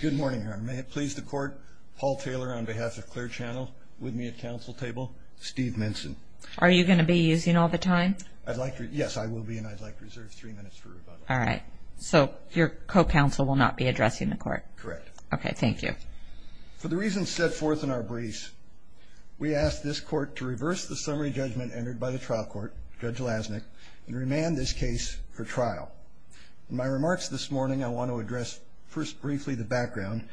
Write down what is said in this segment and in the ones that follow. Good morning, Your Honor. May it please the court, Paul Taylor on behalf of Clear Channel, with me at counsel table, Steve Minson. Are you going to be using all the time? I'd like to, yes, I will be and I'd like to reserve three minutes for rebuttal. All right, so your co-counsel will not be addressing the court? Correct. Okay. Thank you. For the reasons set forth in our briefs, we ask this court to reverse the summary judgment entered by the trial court, Judge Lasnik, and remand this case for trial. In my remarks this morning, I want to address first briefly the background,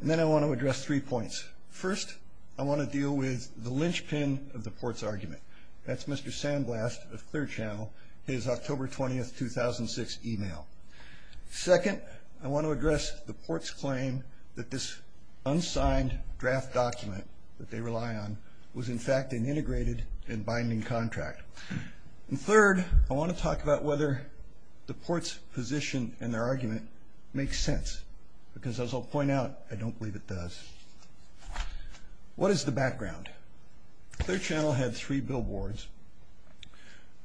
and then I want to address three points. First, I want to deal with the linchpin of the court's argument. That's Mr. Sandblast of Clear Channel, his October 20th, 2006 email. Second, I want to address the court's claim that this unsigned draft document that they rely on was in fact an integrated and binding contract. And third, I want to talk about whether the court's position and their argument makes sense, because as I'll point out, I don't believe it does. What is the background? Clear Channel had three billboards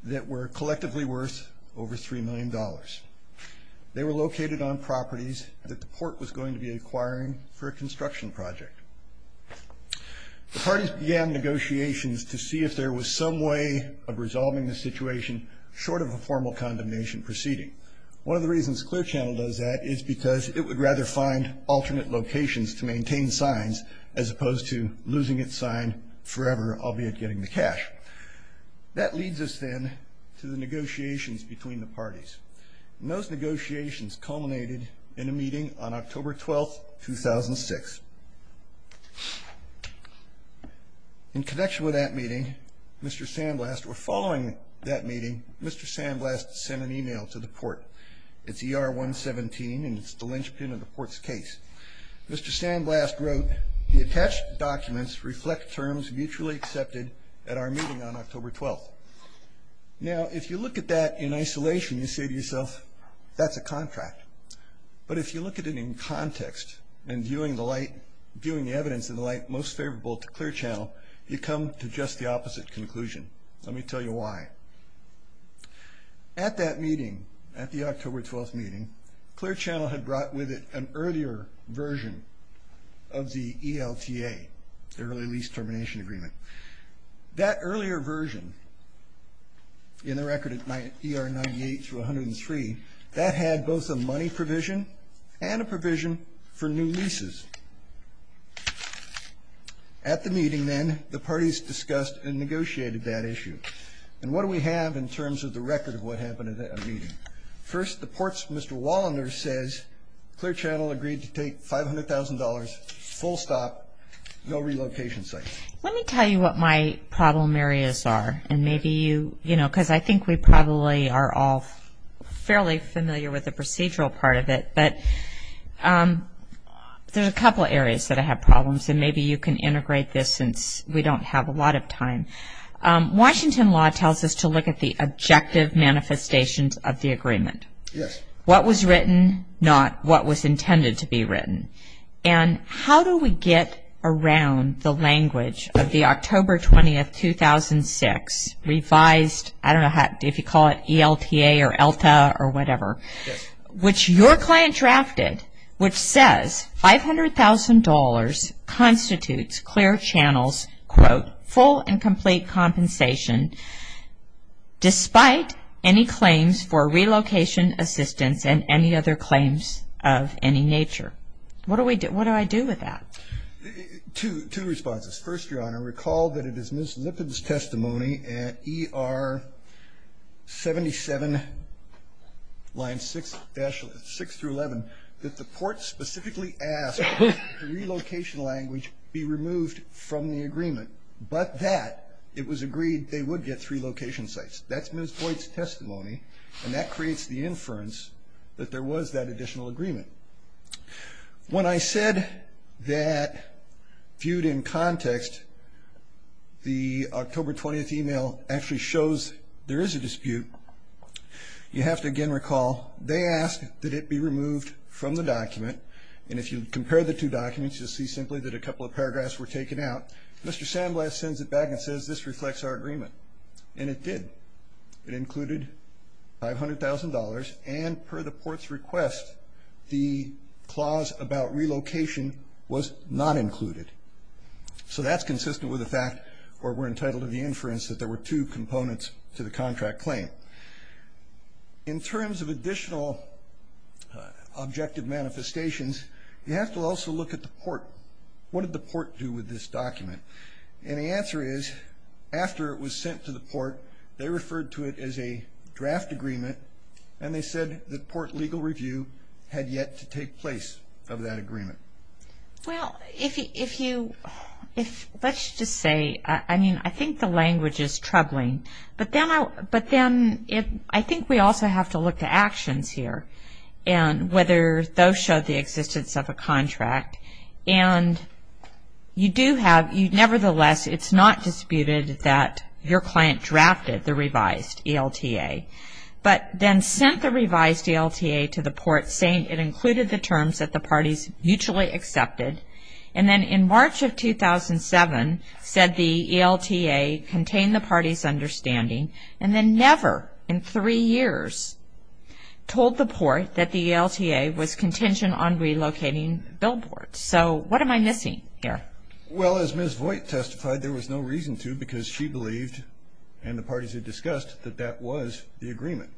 that were collectively worth over three million dollars. They were located on properties that the court was going to be acquiring for a construction project. The parties began negotiations to see if there was some way of resolving the situation short of a formal condemnation proceeding. One of the reasons Clear Channel does that is because it would rather find alternate locations to maintain signs as opposed to losing its sign forever, albeit getting the cash. That leads us then to the negotiations between the parties. Those negotiations culminated in a meeting on October 12th, 2006. In connection with that meeting, Mr. Sandblast, or following that meeting, Mr. Sandblast sent an email to the court. It's ER 117, and it's the linchpin of the court's case. Mr. Sandblast wrote, the attached documents reflect terms mutually accepted at our meeting on October 12th. Now, if you look at that in isolation, you say to yourself, that's a contract. But if you look at it in context and viewing the light, viewing the evidence in the light most favorable to Clear Channel, you come to just the opposite conclusion. Let me tell you why. At that meeting, at the October 12th meeting, Clear Channel had brought with it an earlier version of the ELTA, the Early Lease Termination Agreement. That earlier version, in the record at ER 98-103, that had both a money provision and a provision for new leases. At the meeting, then, the parties discussed and negotiated that issue. And what do we have in terms of the record of what happened at that meeting? First, the court's Mr. Walloner says, Clear Channel agreed to take $500,000 full stop, no relocation sites. Let me tell you what my problem areas are. And maybe you, you know, because I think we probably are all fairly familiar with the procedural part of it, but there's a couple areas that I have problems, and maybe you can integrate this since we don't have a lot of time. Washington law tells us to look at the objective manifestations of the agreement. What was written, not what was intended to be written. And how do we get around the language of the October 20th, 2006 revised, I don't know how, if you call it ELTA or ELTA or whatever, which your client drafted, which says $500,000 constitutes Clear Channel's, quote, full and complete compensation, despite any claims for relocation assistance and any other claims of any nature. What do we do, what do I do with that? Two, two responses. First, Your Honor, recall that it is Ms. Lippitt's testimony at ER 77 line 6-6 through 11 that the court specifically asked relocation language be removed from the agreement, but that it was agreed they would get three location sites. That's Ms. Boyd's testimony, and that creates the inference that there was that additional agreement. When I said that viewed in context, the October 20th email actually shows there is a dispute. You have to again recall, they asked that it be removed from the document, and if you compare the two documents, you'll see simply that a couple of paragraphs were taken out. Mr. Sandblast sends it back and says this reflects our agreement, and it did. It included $500,000, and per the court's request, the clause about relocation was not included. So that's consistent with the fact where we're entitled to the inference that there were two components to the contract claim. In terms of additional objective manifestations, you have to also look at the port. What did the port do with this document? And the answer is, after it was sent to the port, they referred to it as a draft agreement, and they said the port legal review had yet to take place of that agreement. Well, if you, if let's just say, I mean, I think the language is troubling, but then I, but then if, I think we also have to look to actions here, and whether those showed the existence of a contract, and you do have, you, nevertheless, it's not disputed that your client drafted the revised ELTA, but then sent the revised ELTA to the port saying it included the terms that the parties mutually accepted, and then in March of 2007 said the ELTA contained the party's understanding, and then never in three years told the port that the ELTA was contingent on relocating billboards. So what am I missing here? Well, as Ms. Voigt testified, there was no reason to because she believed, and the parties had discussed, that that was the agreement.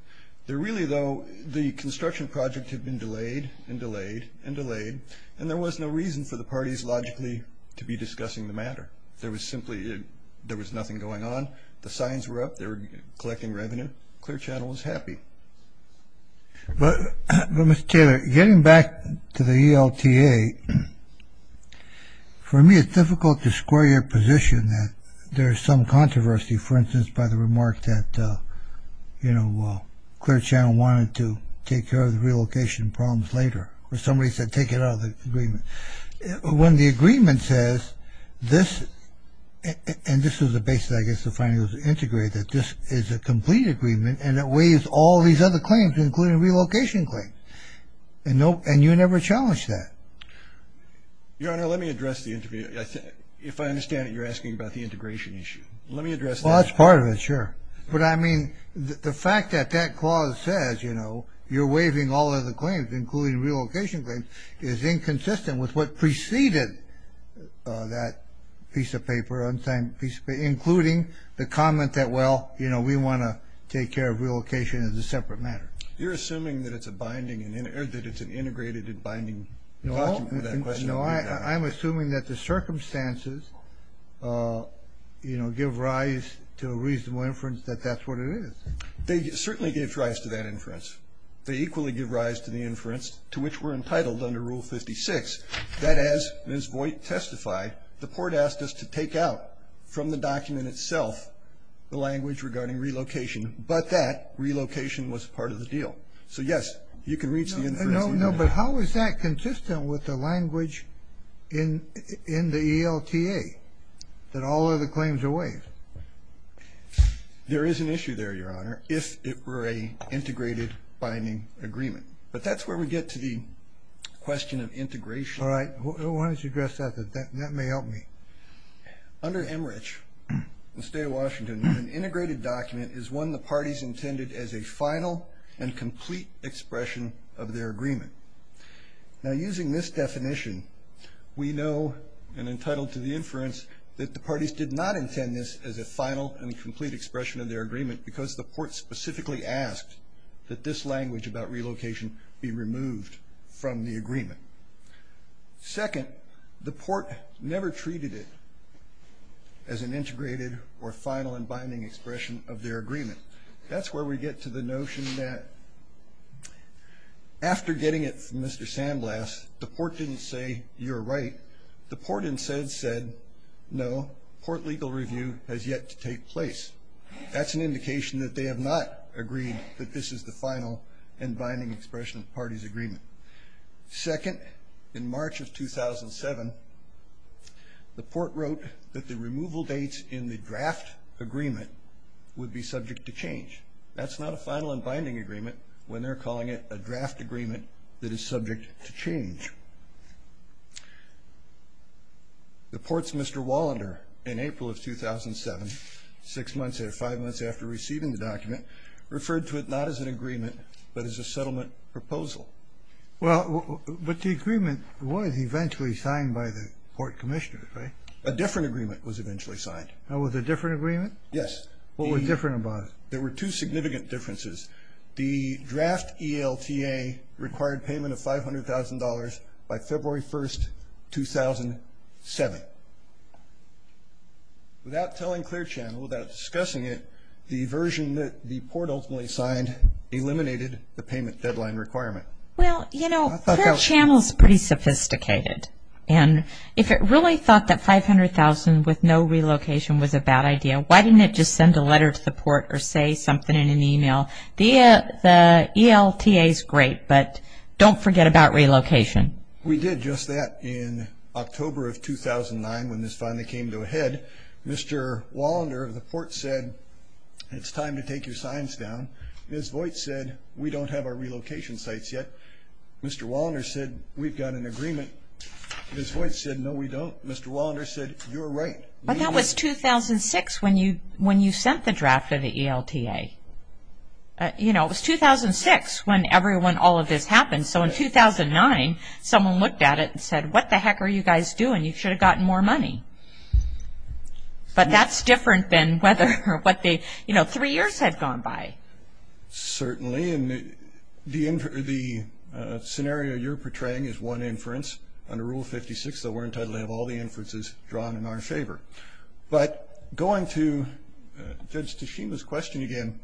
There really, though, the construction project had been delayed and delayed and delayed, and there was no reason for the parties logically to be discussing the matter. There was simply, there was nothing going on. The signs were up. They were collecting revenue. Clear Channel was happy. But, Mr. Taylor, getting back to the ELTA, for me, it's difficult to square your position that there's some controversy, for instance, by the remark that, you know, Clear Channel wanted to take care of the relocation problems later, or somebody said take it out of the agreement. When the agreement says this, and this is the basis, I guess, to finally integrate that this is a complete agreement, and it waives all these other claims, including relocation claims. And no, and you never challenged that. Your Honor, let me address the interview. If I understand it, you're asking about the integration issue. Let me address that. Well, that's part of it, sure. But I mean, the fact that that clause says, you know, you're waiving all of the claims, including relocation claims, is inconsistent with what preceded that piece of paper, unsigned piece of paper, including the comment that, well, you know, we want to take care of relocation as a separate matter. You're assuming that it's a binding, or that it's an integrated and binding? No, I'm assuming that the circumstances, you know, give rise to a reasonable inference that that's what it is. They certainly gave rise to that inference. They equally give rise to the inference to which we're entitled under Rule 56. That as Ms. Voigt testified, the court asked us to take out from the document itself the language regarding relocation, but that relocation was part of the deal. So, yes, you can reach the inference. No, but how is that consistent with the language in the ELTA, that all other claims are waived? There is an issue there, Your Honor, if it were a integrated binding agreement. But that's where we get to the question of integration. All right, why don't you address that, that may help me. Under Emmerich, the state of Washington, an integrated document is one the parties intended as a final and complete expression of their agreement. Now, using this definition, we know, and entitled to the inference, that the parties did not intend this as a final and complete expression of their agreement because the court specifically asked that this language about relocation be removed from the agreement. Second, the court never treated it as an integrated or final and binding expression of their agreement. That's where we get to the notion that after getting it from Mr. Sandblast, the court didn't say, you're right. The court instead said, no, court legal review has yet to take place. That's an indication that they have not agreed that this is the final and binding expression of the party's agreement. Second, in March of 2007, the court wrote that the removal dates in the draft agreement would be subject to change. That's not a final and binding agreement when they're calling it a draft agreement that is subject to change. The courts, Mr. Wallander, in April of 2007, six months or five months after receiving the document, referred to it not as an agreement, but as a settlement proposal. Well, but the agreement was eventually signed by the court commissioner, right? A different agreement was eventually signed. That was a different agreement? Yes. What was different about it? There were two significant differences. The draft ELTA required payment of $500,000 by February 1st, 2007. Without telling Clear Channel, without discussing it, the version that the court ultimately signed eliminated the payment deadline requirement. Well, you know, Clear Channel is pretty sophisticated, and if it really thought that $500,000 with no relocation was a bad idea, why didn't it just send a letter to the court or say something in an email? The ELTA is great, but don't forget about relocation. We did just that in October of 2009 when this finally came to a head. Mr. Wallander of the court said, it's time to take your signs down. Ms. Voigt said, we don't have our relocation sites yet. Mr. Wallander said, we've got an agreement. Ms. Voigt said, no, we don't. Mr. Wallander said, you're right. Well, that was 2006 when you sent the draft of the ELTA. You know, it was 2006 when everyone, all of this happened. So in 2009, someone looked at it and said, what the heck are you guys doing? You should have gotten more money. But that's different than whether or what the, you know, three years had gone by. Certainly, and the scenario you're portraying is one inference. Under Rule 56, though, we're entitled to have all the inferences drawn in our favor. But going to Judge Tashima's question again,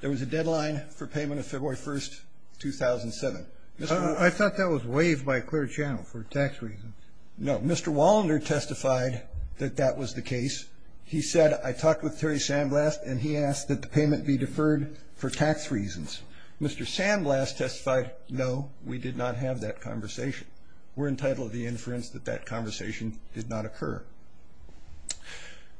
there was a deadline for payment of February 1st, 2007. I thought that was waived by a clear channel for tax reasons. No, Mr. Wallander testified that that was the case. He said, I talked with Terry Sandblast and he asked that the payment be deferred for tax reasons. Mr. Sandblast testified, no, we did not have that conversation. We're entitled to the inference that that conversation did not occur.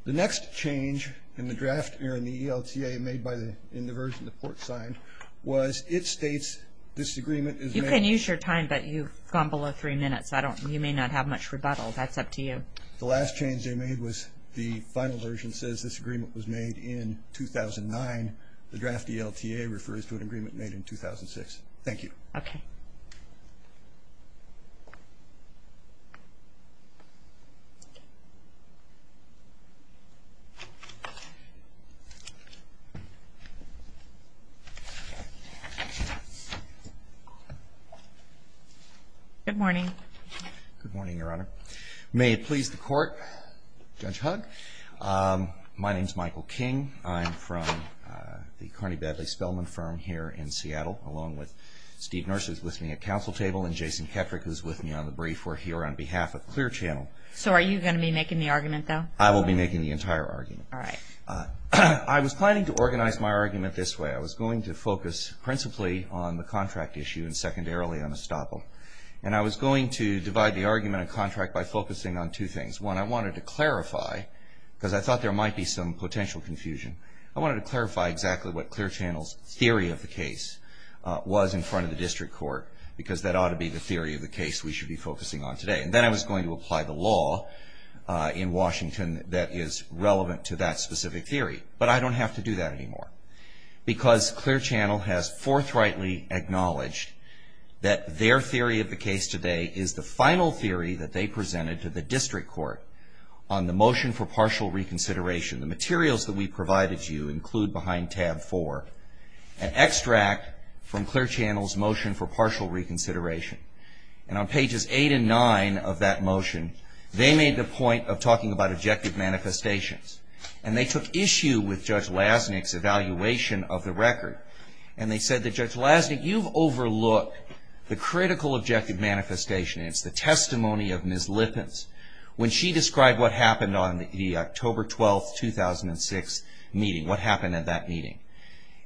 The next change in the draft, or in the ELTA made by the, in the version the court signed, was it states this agreement is made. You can use your time, but you've gone below three minutes. I don't, you may not have much rebuttal. That's up to you. The last change they made was the final version says this agreement was made in 2009. The draft ELTA refers to an agreement made in 2006. Thank you. Okay. Good morning. Good morning, Your Honor. May it please the court, Judge Hugg, my name's Michael King. I'm from the Carney-Badley Spellman firm here in Seattle, along with Steve Nurse, who's listening at council table, and Jason Kettrick, who's with me on the brief. We're here on behalf of Clear Channel. So are you going to be making the argument, though? I will be making the entire argument. All right. I was planning to organize my argument this way. I was going to focus principally on the contract issue and secondarily on Estoppo. And I was going to divide the argument and contract by focusing on two things. One, I wanted to clarify, because I thought there might be some potential confusion. I wanted to clarify exactly what Clear Channel's theory of the case was in front of the district court, because that ought to be the theory of the case we should be focusing on today. And then I was going to apply the law in Washington that is relevant to that specific theory, but I don't have to do that anymore. Because Clear Channel has forthrightly acknowledged that their theory of the case today is the final theory that they presented to the district court on the motion for partial reconsideration. The materials that we provided you include behind tab four, an extract from Clear Channel's motion for partial reconsideration. And on pages eight and nine of that motion, they made the point of talking about objective manifestations, and they took issue with Judge Lasnik's evaluation of the record, and they said that, Judge Lasnik, you've overlooked the critical objective manifestation. It's the testimony of Ms. Lippens when she described what happened on the October 12, 2006 meeting, what happened at that meeting.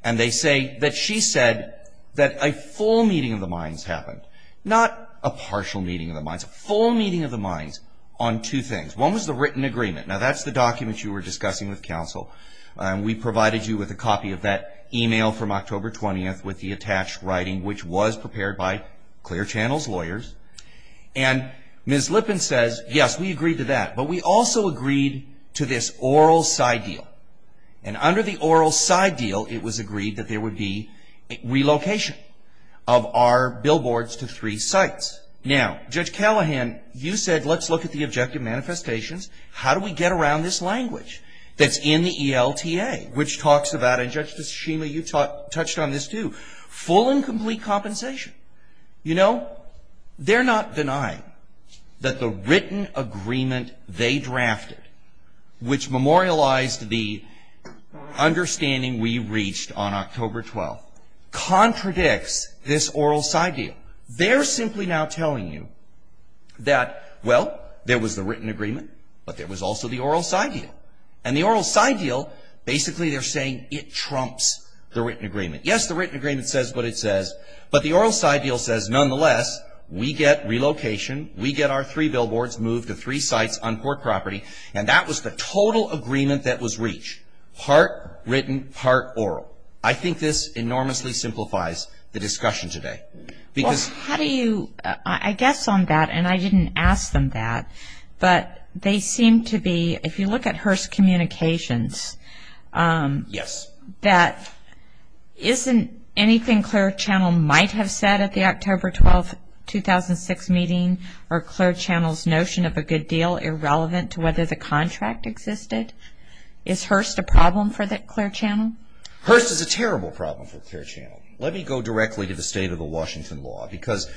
And they say that she said that a full meeting of the minds happened, not a partial meeting of the minds, a full meeting of the minds on two things. One was the written agreement. Now, that's the document you were discussing with counsel, and we provided you with a copy of that email from October 20th with the attached writing, which was prepared by Clear Channel's lawyers. And Ms. Lippens says, yes, we agreed to that, but we also agreed to this oral side deal. And under the oral side deal, it was agreed that there would be relocation of our billboards to three sites. Now, Judge Callahan, you said, let's look at the objective manifestations. How do we get around this language that's in the ELTA, which talks about, and Justice Schema, you touched on this too, full and complete compensation. You know, they're not denying that the written agreement they drafted, which memorialized the understanding we reached on October 12th, contradicts this oral side deal. They're simply now telling you that, well, there was the written agreement, but there was also the oral side deal. And the oral side deal, basically, they're saying it trumps the written agreement. Yes, the written agreement says what it says, but the oral side deal says, nonetheless, we get relocation, we get our three billboards moved to three sites on Port Property, and that was the total agreement that was reached, part written, part oral. I think this enormously simplifies the discussion today. Because how do you, I guess on that, and I didn't ask them that, but they seem to be, if you look at Hearst Communications, that isn't anything Clare Channel might have said at the October 12th, 2006 meeting, or Clare Channel's notion of a good deal, irrelevant to whether the contract existed. Is Hearst a problem for the Clare Channel? Hearst is a terrible problem for Clare Channel. Let me go directly to the state of the Washington law. Because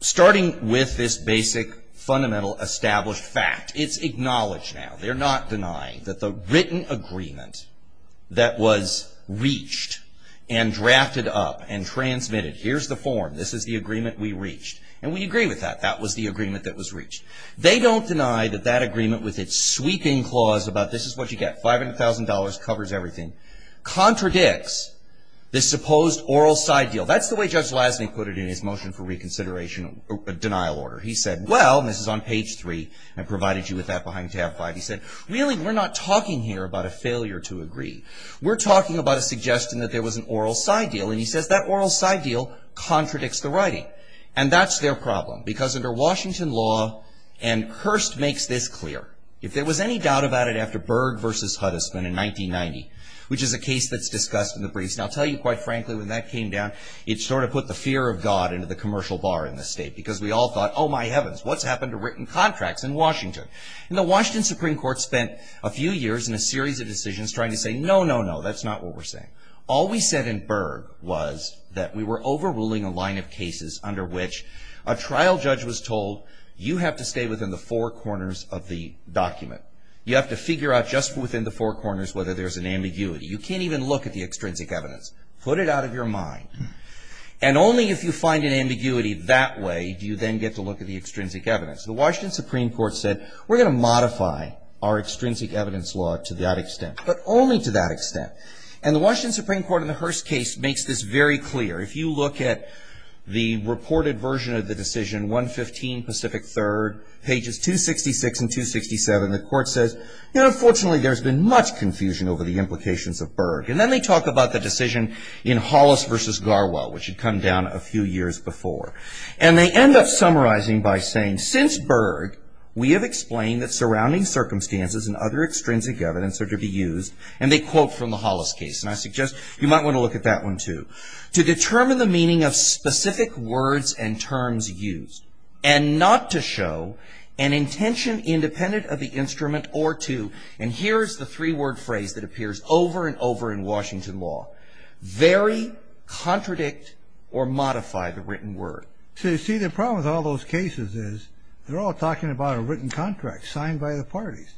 starting with this basic, fundamental, established fact, it's acknowledged now, they're not denying that the written agreement that was reached, and drafted up, and transmitted, here's the form, this is the agreement we reached. And we agree with that, that was the agreement that was reached. They don't deny that that agreement with its sweeping clause about, this is what you get, $500,000, covers everything, contradicts this supposed oral side deal. That's the way Judge Lasney put it in his motion for reconsideration, denial order. He said, well, and this is on page three, and provided you with that behind tab five. He said, really, we're not talking here about a failure to agree. We're talking about a suggestion that there was an oral side deal. And he says that oral side deal contradicts the writing. And that's their problem. Because under Washington law, and Hearst makes this clear, if there was any doubt about it after Berg versus Huddisman in 1990, which is a case that's discussed in the briefs. And I'll tell you quite frankly, when that came down, it sort of put the fear of God into the commercial bar in the state. Because we all thought, oh my heavens, what's happened to written contracts in Washington? And the Washington Supreme Court spent a few years in a series of decisions trying to say, no, no, no, that's not what we're saying. All we said in Berg was that we were overruling a line of cases under which a trial judge was told, you have to stay within the four corners of the document. You have to figure out just within the four corners whether there's an ambiguity. You can't even look at the extrinsic evidence. Put it out of your mind. And only if you find an ambiguity that way do you then get to look at the extrinsic evidence. The Washington Supreme Court said, we're going to modify our extrinsic evidence law to that extent, but only to that extent. And the Washington Supreme Court in the Hearst case makes this very clear. If you look at the reported version of the decision, 115 Pacific 3rd, pages 266 and 267, the court says, unfortunately, there's been much confusion over the implications of Berg. And then they talk about the decision in Hollis versus Garwell, which had come down a few years before. And they end up summarizing by saying, since Berg, we have explained that surrounding circumstances and other extrinsic evidence are to be used. And they quote from the Hollis case. And I suggest you might want to look at that one, too. To determine the meaning of specific words and terms used and not to show an intention independent of the instrument or to, and here's the three-word phrase that appears over and over in Washington law, vary, contradict, or modify the written word. So, you see, the problem with all those cases is they're all talking about a written contract signed by the parties.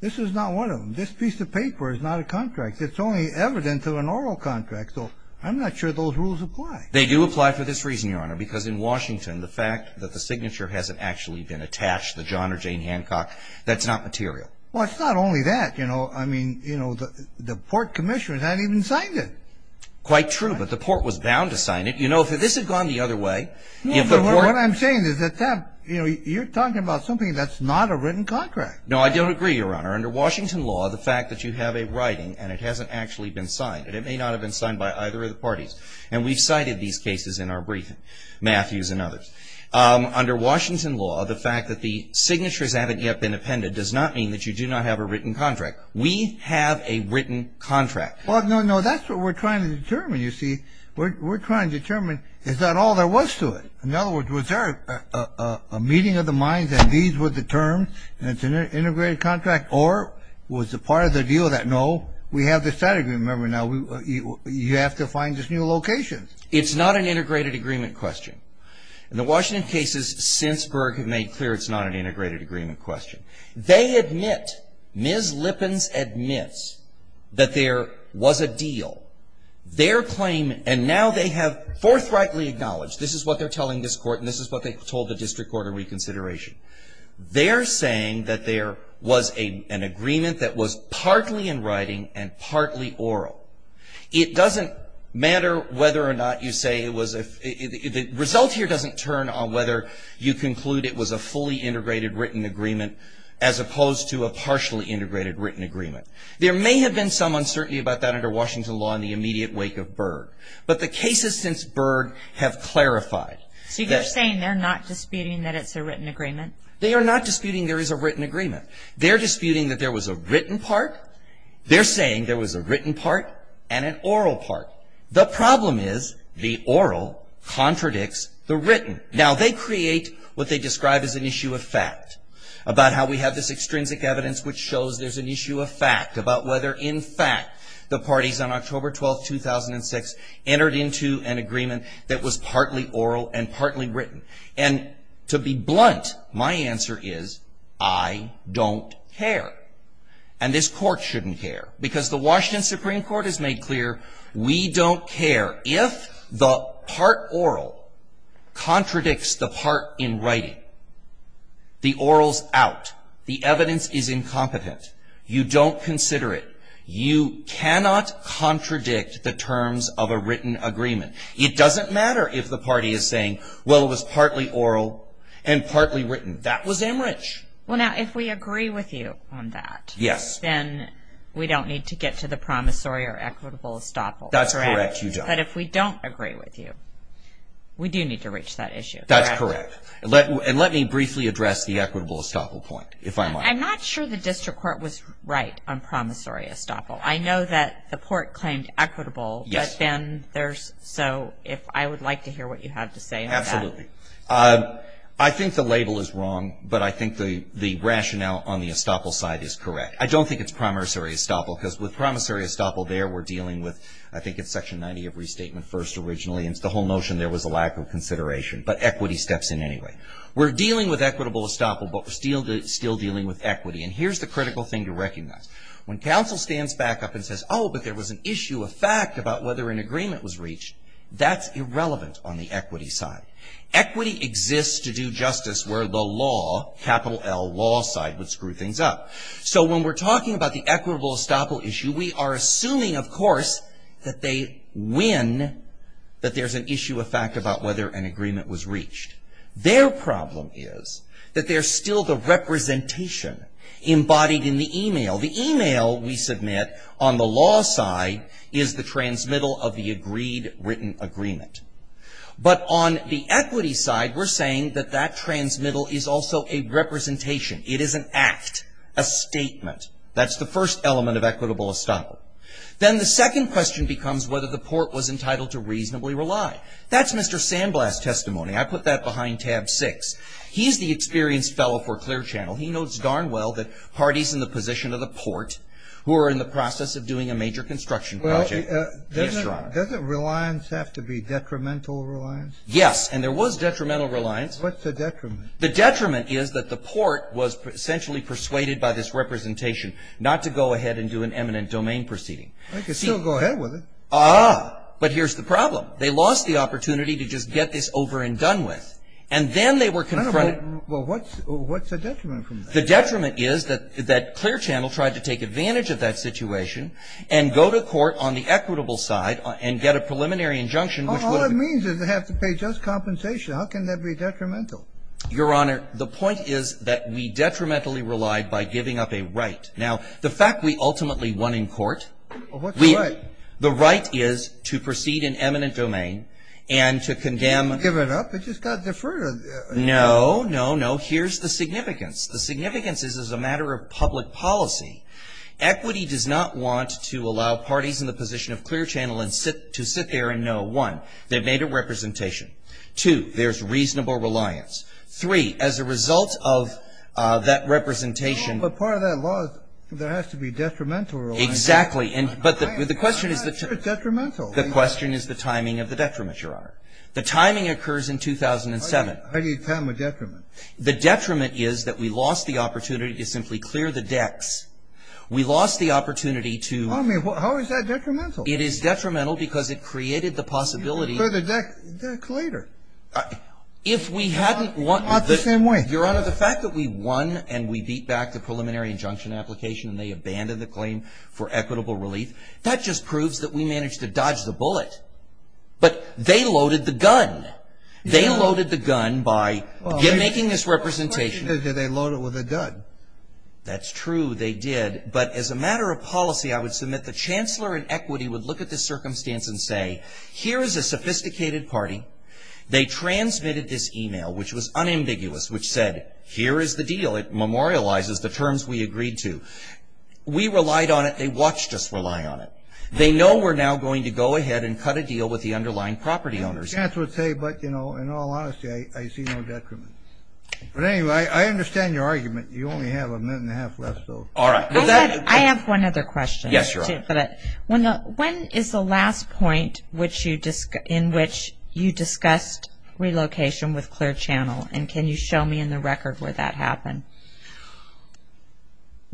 This is not one of them. This piece of paper is not a contract. It's only evidence of an oral contract. So, I'm not sure those rules apply. They do apply for this reason, Your Honor, because in Washington, the fact that the signature hasn't actually been attached, the John or Jane Hancock, that's not material. Well, it's not only that, you know. I mean, you know, the Port Commissioner hasn't even signed it. Quite true, but the Port was bound to sign it. You know, if this had gone the other way, if the Port. What I'm saying is that that, you know, you're talking about something that's not a written contract. No, I don't agree, Your Honor. Under Washington law, the fact that you have a writing and it hasn't actually been signed, and it may not have been signed by either of the parties, and we've cited these cases in our briefing, Matthews and others. Under Washington law, the fact that the signatures haven't yet been appended does not mean that you do not have a written contract. We have a written contract. Well, no, no, that's what we're trying to determine, you see. We're trying to determine is that all there was to it? In other words, was there a meeting of the minds that these were the terms, and it's an integrated contract, or was a part of the deal that, no, we have the statute. Remember now, you have to find this new location. It's not an integrated agreement question. In the Washington cases since Berg have made clear, it's not an integrated agreement question. They admit, Ms. Lippins admits, that there was a deal. Their claim, and now they have forthrightly acknowledged, this is what they're telling this Court, and this is what they told the District Court of Reconsideration, they're saying that there was an agreement that was partly in writing and partly oral. It doesn't matter whether or not you say it was, the result here doesn't turn on whether you conclude it was a fully integrated written agreement as opposed to a partially integrated written agreement. There may have been some uncertainty about that under Washington law in the immediate wake of Berg, but the cases since Berg have clarified. See, they're saying they're not disputing that it's a written agreement. They are not disputing there is a written agreement. They're disputing that there was a written part. They're saying there was a written part and an oral part. The problem is the oral contradicts the written. Now, they create what they describe as an issue of fact about how we have this extrinsic evidence which shows there's an issue of fact about whether, in fact, the parties on October 12, 2006, entered into an agreement that was partly oral and partly written. And to be blunt, my answer is I don't care. And this court shouldn't care because the Washington Supreme Court has made clear we don't care if the part oral contradicts the part in writing. The oral's out. The evidence is incompetent. You don't consider it. You cannot contradict the terms of a written agreement. It doesn't matter if the party is saying, well, it was partly oral and partly written. That was Amherst. Well, now, if we agree with you on that, then we don't need to get to the promissory or equitable estoppel. That's correct, you don't. But if we don't agree with you, we do need to reach that issue. That's correct. And let me briefly address the equitable estoppel point, if I might. I'm not sure the district court was right on promissory estoppel. I know that the court claimed equitable, but then there's, so if I would like to hear what you have to say. Absolutely. I think the label is wrong, but I think the rationale on the estoppel side is correct. I don't think it's promissory estoppel, because with promissory estoppel there, we're dealing with, I think it's section 90 of restatement first originally, and it's the whole notion there was a lack of consideration. But equity steps in anyway. We're dealing with equitable estoppel, but we're still dealing with equity. And here's the critical thing to recognize. When counsel stands back up and says, oh, but there was an issue, a fact, about whether an agreement was reached, that's irrelevant on the equity side. Equity exists to do justice where the law, capital L, law side would screw things up. So when we're talking about the equitable estoppel issue, we are assuming, of course, that they win, that there's an issue, a fact, about whether an agreement was reached. Their problem is that there's still the representation embodied in the email. The email we submit on the law side is the transmittal of the agreed written agreement. But on the equity side, we're saying that that transmittal is also a representation. It is an act, a statement. That's the first element of equitable estoppel. Then the second question becomes whether the port was entitled to reasonably rely. That's Mr. Sandblast's testimony. I put that behind tab six. He's the experienced fellow for Clear Channel. He knows darn well that Hardy's in the position of the port who are in the process of doing a major construction project. Yes, Your Honor. Doesn't reliance have to be detrimental reliance? Yes. And there was detrimental reliance. What's the detriment? The detriment is that the port was essentially persuaded by this representation not to go ahead and do an eminent domain proceeding. They could still go ahead with it. Ah. But here's the problem. They lost the opportunity to just get this over and done with. And then they were confronted. Well, what's the detriment from that? The detriment is that Clear Channel tried to take advantage of that situation and go to court on the equitable side and get a preliminary injunction which would have. All it means is they have to pay just compensation. How can that be detrimental? Your Honor, the point is that we detrimentally relied by giving up a right. Now, the fact we ultimately won in court. Well, what's the right? The right is to proceed in eminent domain and to condemn. You didn't give it up. It just got deferred. No, no, no. Here's the significance. The significance is as a matter of public policy. Equity does not want to allow parties in the position of Clear Channel to sit there and know, one, they've made a representation. Two, there's reasonable reliance. Three, as a result of that representation. But part of that law, there has to be detrimental reliance. Exactly. And but the question is. It's detrimental. The question is the timing of the detriment, Your Honor. How do you time a detriment? The detriment is that we lost the opportunity to simply clear the decks. We lost the opportunity to. I mean, how is that detrimental? It is detrimental because it created the possibility. You can clear the deck later. If we hadn't won. Not the same way. Your Honor, the fact that we won and we beat back the preliminary injunction application and they abandoned the claim for equitable relief, that just proves that we managed to dodge the bullet. But they loaded the gun. They loaded the gun by making this representation. They loaded it with a gun. That's true. They did. But as a matter of policy, I would submit the chancellor in equity would look at this circumstance and say, here is a sophisticated party. They transmitted this email, which was unambiguous, which said, here is the deal. It memorializes the terms we agreed to. We relied on it. They watched us rely on it. They know we're now going to go ahead and cut a deal with the underlying property owners. Chancellor would say, but, you know, in all honesty, I see no detriment. But anyway, I understand your argument. You only have a minute and a half left, though. All right. I have one other question. Yes, Your Honor. When is the last point in which you discussed relocation with Clear Channel? And can you show me in the record where that happened?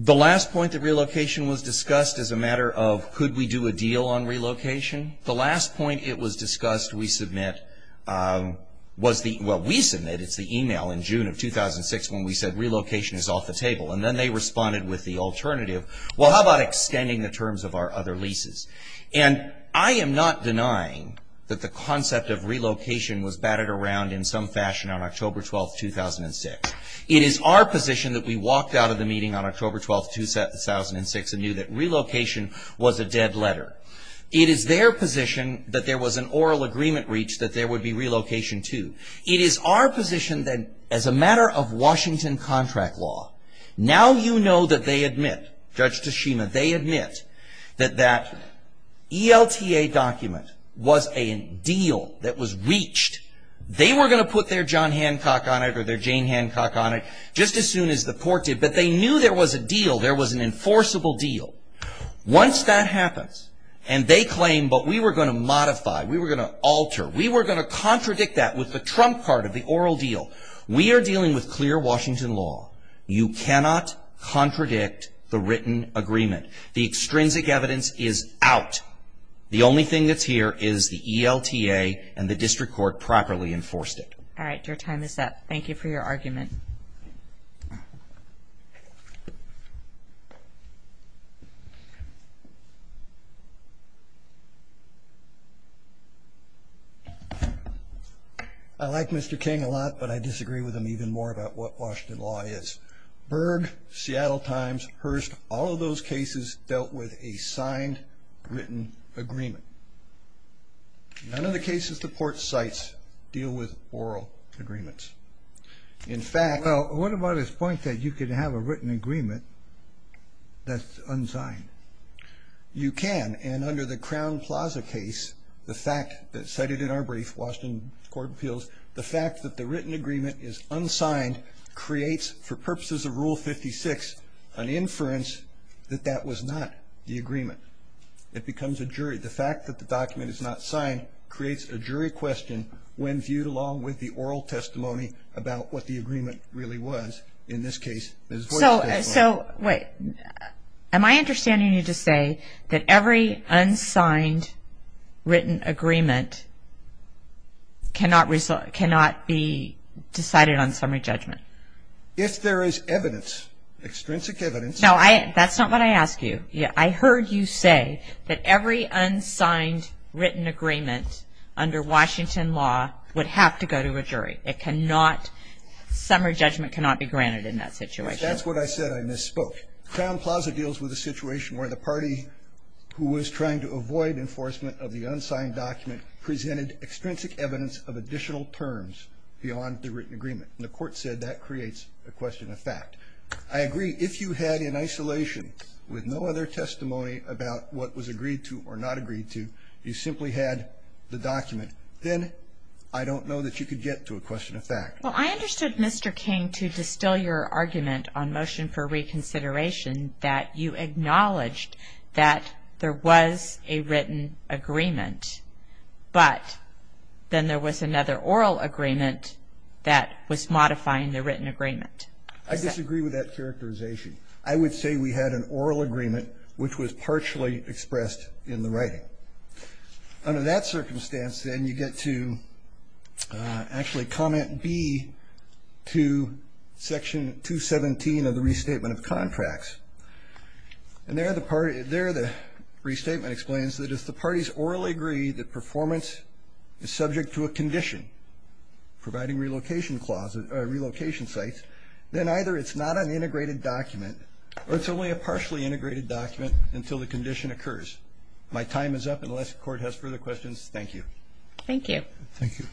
The last point that relocation was discussed is a matter of, could we do a deal on relocation? The last point it was discussed we submit was the, well, we submit, it's the email in June of 2006 when we said relocation is off the table. And then they responded with the alternative, well, how about extending the terms of our other leases? And I am not denying that the concept of relocation was batted around in some fashion on October 12, 2006. It is our position that we walked out of the meeting on October 12, 2006 and knew that relocation was a dead letter. It is their position that there was an oral agreement reached that there would be relocation, too. It is our position that as a matter of Washington contract law, now you know that they admit, Judge Tashima, they admit that that ELTA document was a deal that was reached. They were going to put their John Hancock on it or their Jane Hancock on it just as soon as the court did, but they knew there was a deal, there was an enforceable deal. Once that happens and they claim, but we were going to modify, we were going to alter, we were going to contradict that with the trump card of the oral deal. We are dealing with clear Washington law. You cannot contradict the written agreement. The extrinsic evidence is out. The only thing that's here is the ELTA and the district court properly enforced it. All right, your time is up. Thank you for your argument. I like Mr. King a lot, but I disagree with him even more about what Washington law is. Berg, Seattle Times, Hearst, all of those cases dealt with a signed written agreement. None of the cases the court cites deal with oral agreements. In fact... Well, what about his point that you could have a written agreement that's unsigned? You can, and under the Crown Plaza case, the fact that, cited in our brief, Washington Court of Appeals, the fact that the written agreement is unsigned creates, for purposes of Rule 56, an inference that that was not the agreement. It becomes a jury. The fact that the document is not signed creates a jury question when viewed along with the oral testimony about what the agreement really was. In this case, it was voice testimony. So, wait, am I understanding you to say that every unsigned written agreement cannot be decided on summary judgment? If there is evidence, extrinsic evidence... No, that's not what I asked you. I heard you say that every unsigned written agreement under Washington law would have to go to a jury. It cannot, summary judgment cannot be granted in that situation. That's what I said, I misspoke. Crown Plaza deals with a situation where the party who was trying to avoid enforcement of the unsigned document presented extrinsic evidence of additional terms beyond the written agreement. The court said that creates a question of fact. I agree, if you had, in isolation, with no other testimony about what was agreed to or not agreed to, you simply had the document, then I don't know that you could get to a question of fact. Well, I understood, Mr. King, to distill your argument on motion for reconsideration that you acknowledged that there was a written agreement, but then there was another oral agreement that was modifying the written agreement. I disagree with that characterization. I would say we had an oral agreement which was partially expressed in the writing. Under that circumstance, then you get to actually comment B to section 217 of the Restatement of Contracts. And there the restatement explains that if the parties orally agree that performance is subject to a condition, providing relocation sites, then either it's not an integrated document or it's only a partially integrated document until the condition occurs. My time is up. Unless the court has further questions, thank you. Thank you. Thank you.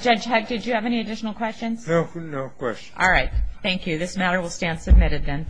Judge Huck, did you have any additional questions? No, no questions. All right, thank you. This matter will stand submitted, then.